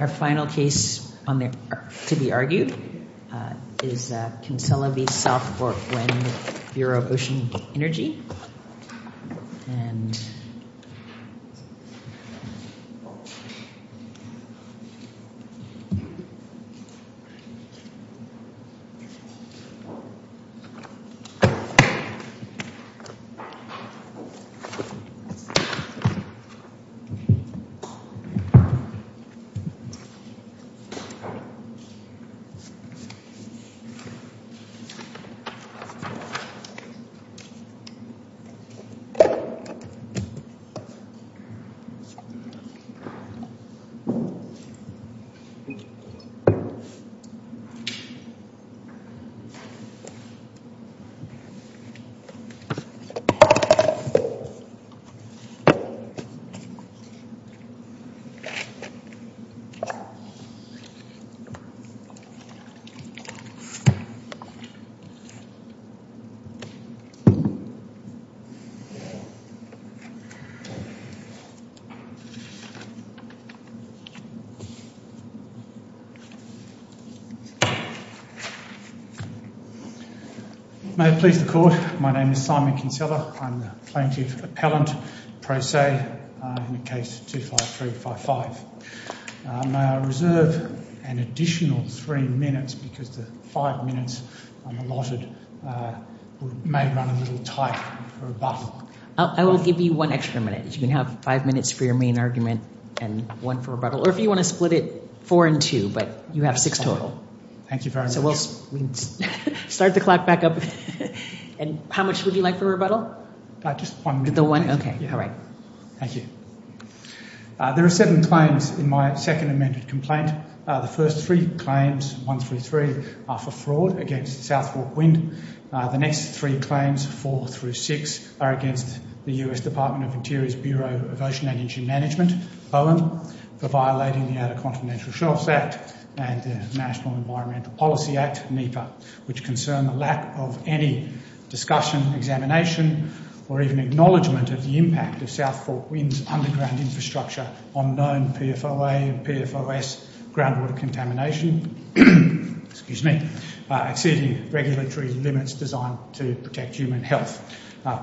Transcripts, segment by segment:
Our final case to be argued is Kinsella v. South Fork Wind Bureau of Ocean Energy Kinsella v. Bureau of Ocean Energy Management Simon Kinsella v. Bureau of Ocean Energy Management May I reserve an additional three minutes because the five minutes I'm allotted may run a little tight for rebuttal. I will give you one extra minute. You can have five minutes for your main argument and one for rebuttal. Or if you want to split it four and two, but you have six total. Thank you very much. So we'll start the clock back up. And how much would you like for rebuttal? Just one minute. The one? Okay. All right. Thank you. There are seven claims in my second amended complaint. The first three claims, 1 through 3, are for fraud against South Fork Wind. The next three claims, 4 through 6, are against the U.S. Department of Interior's Bureau of Ocean Energy Management, BOEM, for violating the Outer Continental Shelf Act and the National Environmental Policy Act, NEPA, which concern the lack of any discussion, examination, or even acknowledgement of the impact of South Fork Wind's underground infrastructure on known PFOA and PFOS groundwater contamination, exceeding regulatory limits designed to protect human health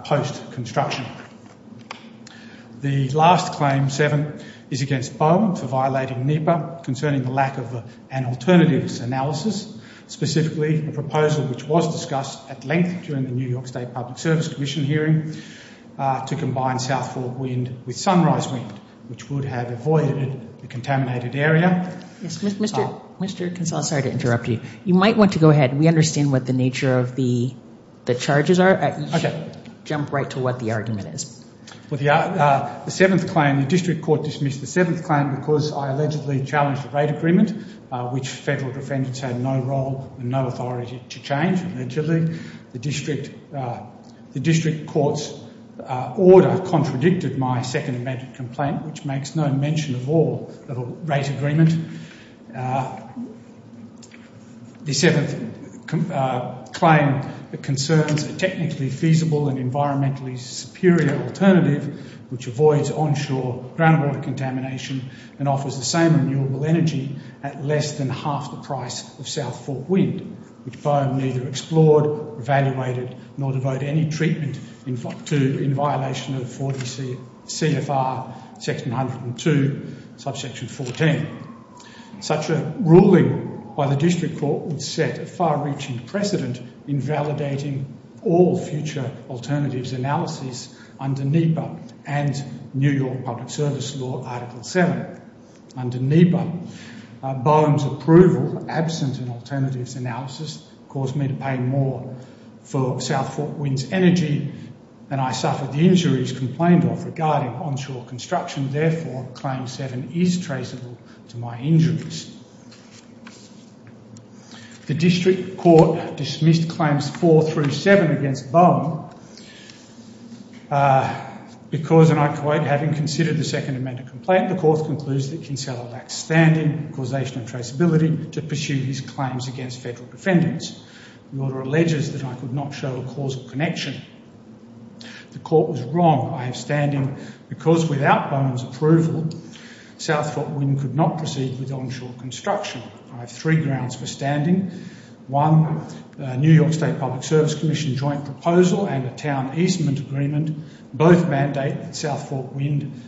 post-construction. The last claim, 7, is against BOEM for violating NEPA, concerning the lack of an alternatives analysis, specifically a proposal which was discussed at length during the New York State Public Service Commission hearing to combine South Fork Wind with Sunrise Wind, which would have avoided the contaminated area. Mr. Kinsella, sorry to interrupt you. You might want to go ahead. We understand what the nature of the charges are. Okay. Jump right to what the argument is. Well, the seventh claim, the district court dismissed the seventh claim because I allegedly challenged a rate agreement, which federal defendants had no role and no authority to change, allegedly. The district court's order contradicted my second amendment complaint, which makes no mention of all of a rate agreement. The seventh claim concerns a technically feasible and environmentally superior alternative, which avoids onshore groundwater contamination and offers the same renewable energy at less than half the price of South Fork Wind, which BOEM neither explored, evaluated, nor devote any treatment to in violation of 40 CFR section 102, subsection 14. Such a ruling by the district court would set a far-reaching precedent in validating all future alternatives analysis under NEPA and New York Public Service Law Article 7. Under NEPA, BOEM's approval, absent an alternatives analysis, caused me to pay more for South Fork Wind's energy, and I suffered the injuries complained of regarding onshore construction. Therefore, Claim 7 is traceable to my injuries. The district court dismissed Claims 4 through 7 against BOEM because, and I quote, having considered the second amendment complaint, the court concludes that Kinsella lacks standing, causation and traceability to pursue his claims against federal defendants. The order alleges that I could not show a causal connection. The court was wrong. I have standing because without BOEM's approval, South Fork Wind could not proceed with onshore construction. I have three grounds for standing. One, New York State Public Service Commission joint proposal and a town easement agreement both mandate that South Fork Wind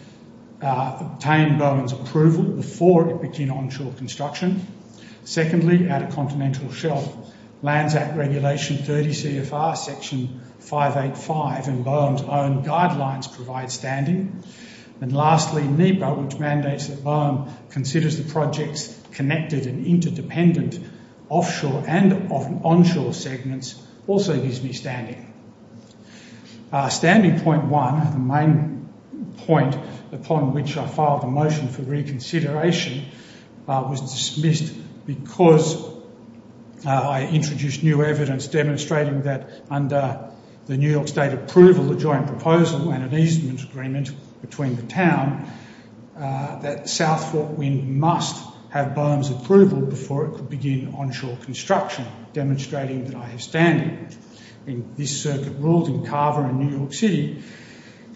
obtain BOEM's approval before it begin onshore construction. Secondly, at a continental shelf, Lands Act Regulation 30 CFR Section 585 and BOEM's own guidelines provide standing. And lastly, NEPA, which mandates that BOEM considers the project's connected and interdependent offshore and onshore segments also gives me standing. Standing point one, the main point upon which I filed a motion for reconsideration, was dismissed because I introduced new evidence demonstrating that under the New York State approval, the joint proposal and an easement agreement between the town, that South Fork Wind must have BOEM's approval before it could begin onshore construction, demonstrating that I have standing. This circuit ruled in Carver in New York City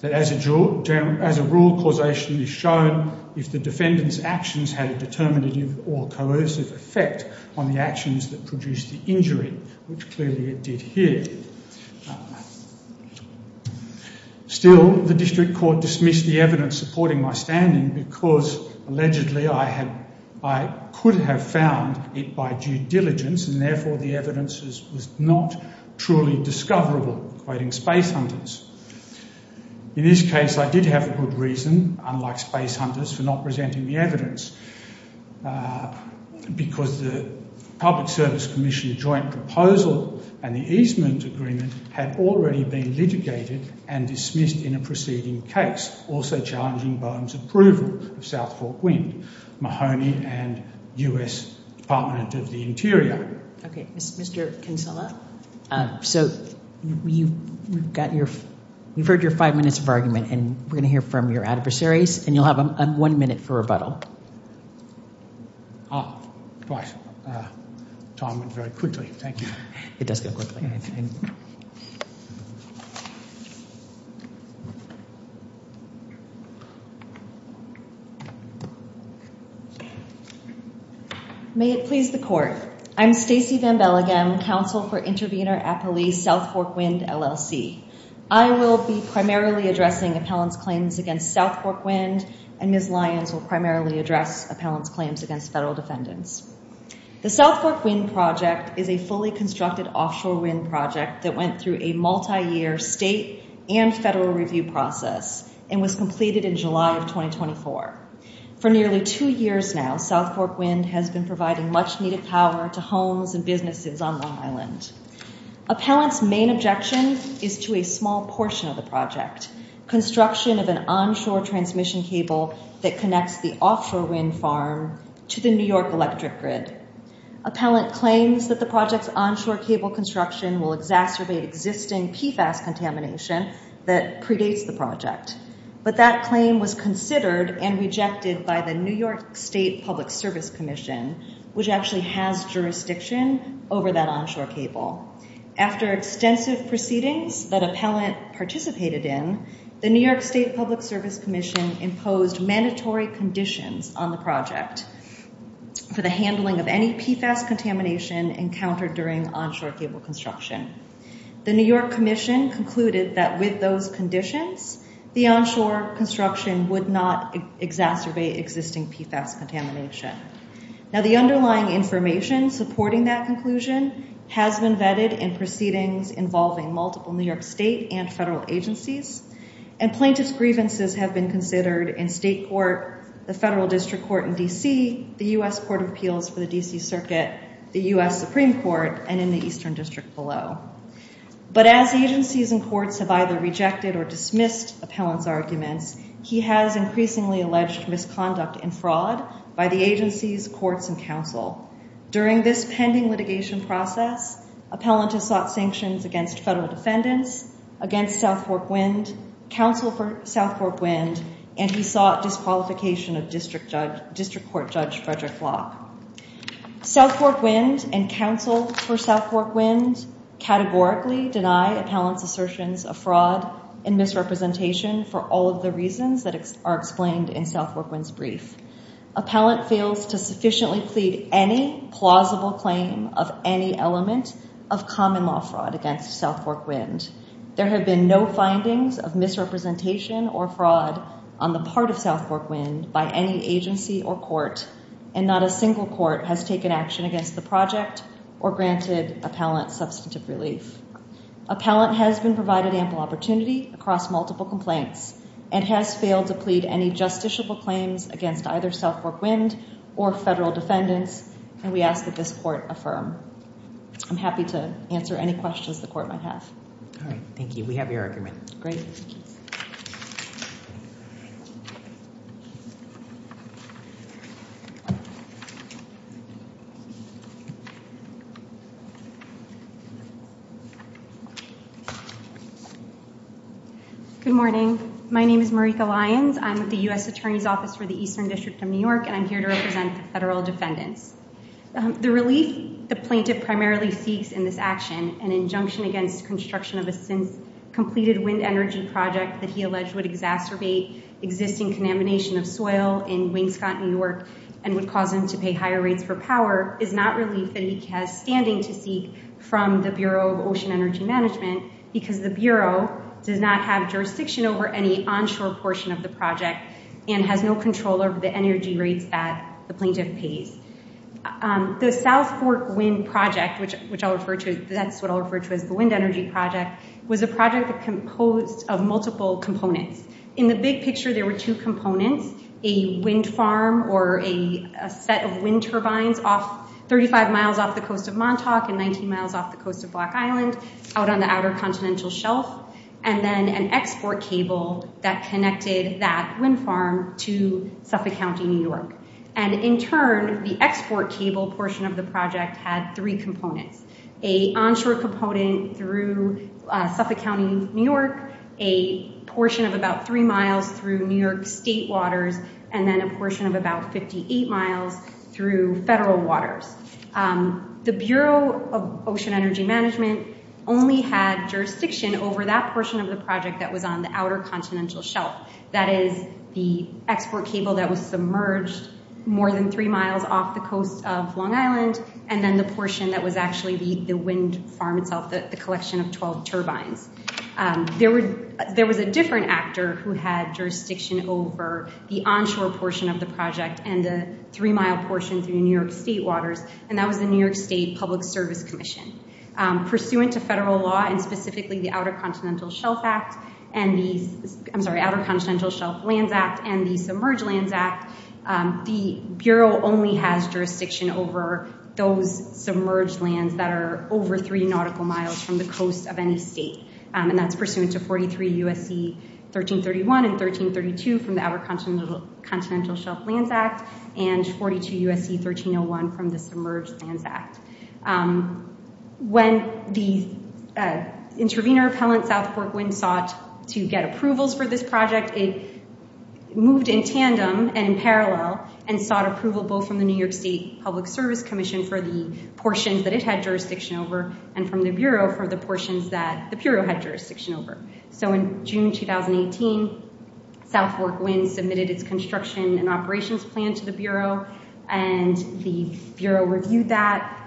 that as a rule, causation is shown if the defendant's actions had a determinative or coercive effect on the actions that produced the injury, which clearly it did here. Still, the district court dismissed the evidence supporting my standing because allegedly I could have found it by due diligence and therefore the evidence was not truly discoverable, quoting Space Hunters. In this case, I did have a good reason, unlike Space Hunters, for not presenting the evidence because the Public Service Commission joint proposal and the easement agreement had already been litigated and dismissed in a preceding case, also challenging BOEM's approval of South Fork Wind, Mahoney and U.S. Department of the Interior. Okay, Mr. Kinsella, so we've heard your five minutes of argument and we're going to hear from your adversaries and you'll have one minute for rebuttal. Ah, right. Time went very quickly. Thank you. It does go quickly. May it please the court, I'm Stacey Van Belleghem, Counsel for Intervenor Appellee, South Fork Wind, LLC. I will be primarily addressing appellant's claims against South Fork Wind and Ms. Lyons will primarily address appellant's claims against federal defendants. The South Fork Wind project is a fully constructed offshore wind project that went through a multi-year state and federal review process and was completed in July of 2024. For nearly two years now, South Fork Wind has been providing much needed power to homes and businesses on Long Island. Appellant's main objection is to a small portion of the project, construction of an onshore transmission cable that connects the offshore wind farm to the New York electric grid. Appellant claims that the project's onshore cable construction will exacerbate existing PFAS contamination that predates the project, but that claim was considered and rejected by the New York State Public Service Commission, which actually has jurisdiction over that onshore cable. After extensive proceedings that appellant participated in, the New York State Public Service Commission imposed mandatory conditions on the project for the handling of any PFAS contamination encountered during onshore cable construction. The New York Commission concluded that with those conditions, the onshore construction would not exacerbate existing PFAS contamination. Now, the underlying information supporting that conclusion has been vetted in proceedings involving multiple New York state and federal agencies, and plaintiff's grievances have been considered in state court, the federal district court in D.C., the U.S. Court of Appeals for the D.C. Circuit, the U.S. Supreme Court, and in the Eastern District below. But as agencies and courts have either rejected or dismissed appellant's arguments, he has increasingly alleged misconduct and fraud by the agencies, courts, and counsel. During this pending litigation process, appellant has sought sanctions against federal defendants, against South Fork Wind, counsel for South Fork Wind, and he sought disqualification of District Court Judge Frederick Locke. South Fork Wind and counsel for South Fork Wind categorically deny appellant's assertions of fraud and misrepresentation for all of the reasons that are explained in South Fork Wind's brief. Appellant fails to sufficiently plead any plausible claim of any element of common law fraud against South Fork Wind. There have been no findings of misrepresentation or fraud on the part of South Fork Wind by any agency or court, and not a single court has taken action against the project or granted appellant substantive relief. Appellant has been provided ample opportunity across multiple complaints and has failed to plead any justiciable claims against either South Fork Wind or federal defendants, and we ask that this court affirm. I'm happy to answer any questions the court might have. All right. Thank you. We have your argument. Great. Good morning. My name is Marika Lyons. I'm with the U.S. Attorney's Office for the Eastern District of New York, and I'm here to represent the federal defendants. The relief the plaintiff primarily seeks in this action, an injunction against construction of a since-completed wind energy project that he alleged would exacerbate existing conamination of soil in Wingscott, New York, and would cause him to pay higher rates for power, is not relief that he has standing to seek from the Bureau of Ocean Energy Management because the Bureau does not have jurisdiction over any onshore portion of the project and has no control over the energy rates that the plaintiff pays. The South Fork Wind project, which I'll refer to, that's what I'll refer to as the wind energy project, was a project composed of multiple components. In the big picture, there were two components, a wind farm or a set of wind turbines 35 miles off the coast of Montauk and 19 miles off the coast of Black Island out on the outer continental shelf, and then an export cable that connected that wind farm to Suffolk County, New York. And in turn, the export cable portion of the project had three components, a onshore component through Suffolk County, New York, a portion of about three miles through New York state waters, and then a portion of about 58 miles through federal waters. The Bureau of Ocean Energy Management only had jurisdiction over that portion of the project that was on the outer continental shelf, that is the export cable that was submerged more than three miles off the coast of Long Island, and then the portion that was actually the wind farm itself, the collection of 12 turbines. There was a different actor who had jurisdiction over the onshore portion of the project and the three-mile portion through New York state waters, and that was the New York State Public Service Commission. Pursuant to federal law and specifically the Outer Continental Shelf Lands Act and the Submerged Lands Act, the Bureau only has jurisdiction over those submerged lands that are over three nautical miles from the coast of any state, and that's pursuant to 43 U.S.C. 1331 and 1332 from the Outer Continental Shelf Lands Act and 42 U.S.C. 1301 from the Submerged Lands Act. When the intravenous repellent South Fork Wind sought to get approvals for this project, it moved in tandem and in parallel and sought approval both from the New York State Public Service Commission for the portions that it had jurisdiction over and from the Bureau for the portions that the Bureau had jurisdiction over. So in June 2018, South Fork Wind submitted its construction and operations plan to the Bureau, and the Bureau reviewed that.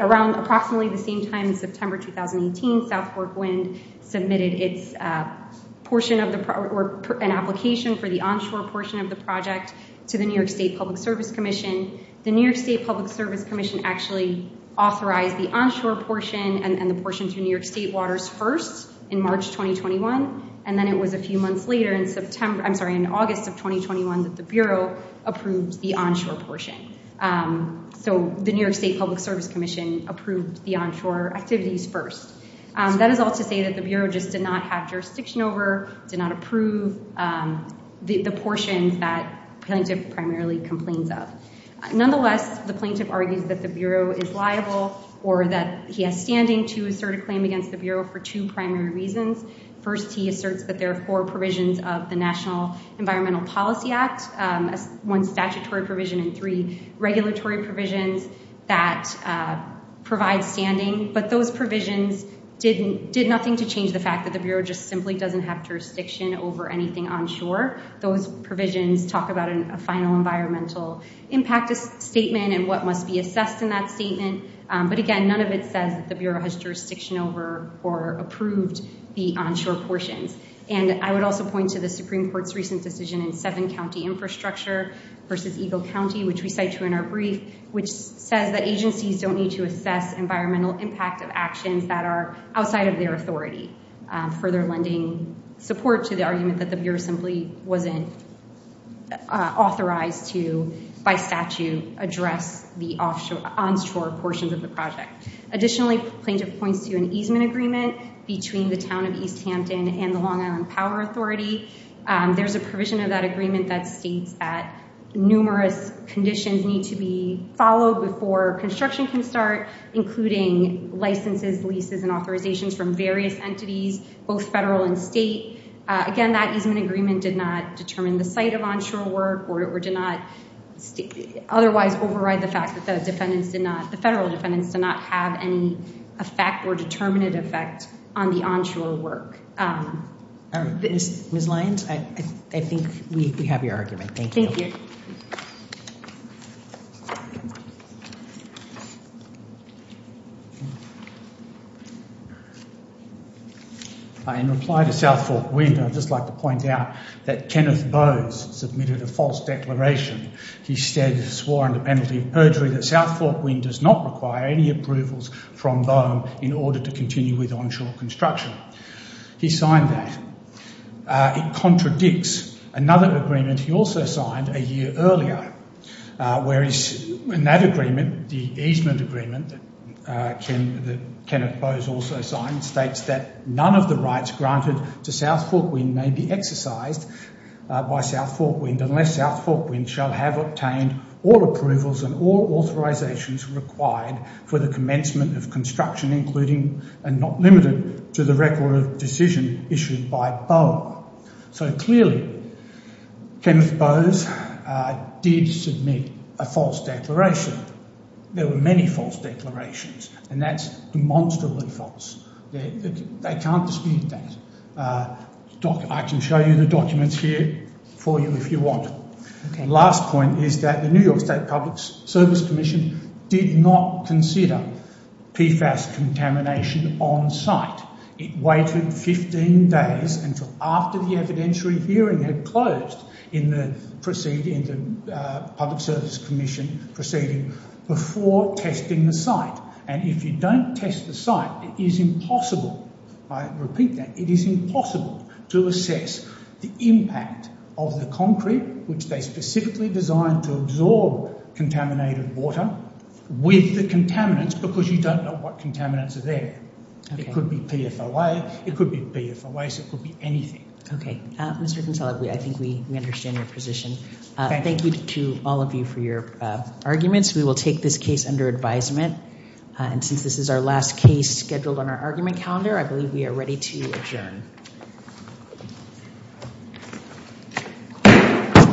Around approximately the same time in September 2018, South Fork Wind submitted an application for the onshore portion of the project to the New York State Public Service Commission. The New York State Public Service Commission actually authorized the onshore portion and the portion through New York State waters first in March 2021, and then it was a few months later in August of 2021 that the Bureau approved the onshore portion. So the New York State Public Service Commission approved the onshore activities first. That is all to say that the Bureau just did not have jurisdiction over, did not approve the portions that plaintiff primarily complains of. Nonetheless, the plaintiff argues that the Bureau is liable or that he has standing to assert a claim against the Bureau for two primary reasons. First, he asserts that there are four provisions of the National Environmental Policy Act, one statutory provision and three regulatory provisions that provide standing, but those provisions did nothing to change the fact that the Bureau just simply doesn't have jurisdiction over anything onshore. Those provisions talk about a final environmental impact statement and what must be assessed in that statement. But again, none of it says that the Bureau has jurisdiction over or approved the onshore portions. And I would also point to the Supreme Court's recent decision in seven-county infrastructure versus Eagle County, which we cite to in our brief, which says that agencies don't need to assess environmental impact of actions that are outside of their authority. Further lending support to the argument that the Bureau simply wasn't authorized to, by statute, address the onshore portions of the project. Additionally, plaintiff points to an easement agreement between the Town of East Hampton and the Long Island Power Authority. There's a provision of that agreement that states that numerous conditions need to be followed before construction can start, including licenses, leases, and authorizations from various entities, both federal and state. Again, that easement agreement did not determine the site of onshore work or did not otherwise override the fact that the federal defendants did not have any effect or determinant effect on the onshore work. Ms. Lyons, I think we have your argument. Thank you. Thank you. In reply to South Fork Wind, I'd just like to point out that Kenneth Bowes submitted a false declaration. He stated, swore under penalty of perjury, that South Fork Wind does not require any approvals from BOEM in order to continue with onshore construction. He signed that. It contradicts another agreement he also signed a year earlier, where in that agreement, the easement agreement that Kenneth Bowes also signed, states that none of the rights granted to South Fork Wind may be exercised by South Fork Wind unless South Fork Wind shall have obtained all approvals and all authorizations required for the commencement of construction, including and not limited to the record of decision issued by BOEM. So clearly, Kenneth Bowes did submit a false declaration. There were many false declarations, and that's demonstrably false. They can't dispute that. Doc, I can show you the documents here for you if you want. The last point is that the New York State Public Service Commission did not consider PFAS contamination on site. It waited 15 days until after the evidentiary hearing had closed in the Public Service Commission proceeding before testing the site. And if you don't test the site, it is impossible, I repeat that, it is impossible to assess the impact of the concrete, which they specifically designed to absorb contaminated water, with the contaminants because you don't know what contaminants are there. It could be PFOA. It could be PFOA, so it could be anything. Okay. Mr. Kinsella, I think we understand your position. Thank you. Thank you to all of you for your arguments. We will take this case under advisement. And since this is our last case scheduled on our argument calendar, I believe we are ready to adjourn.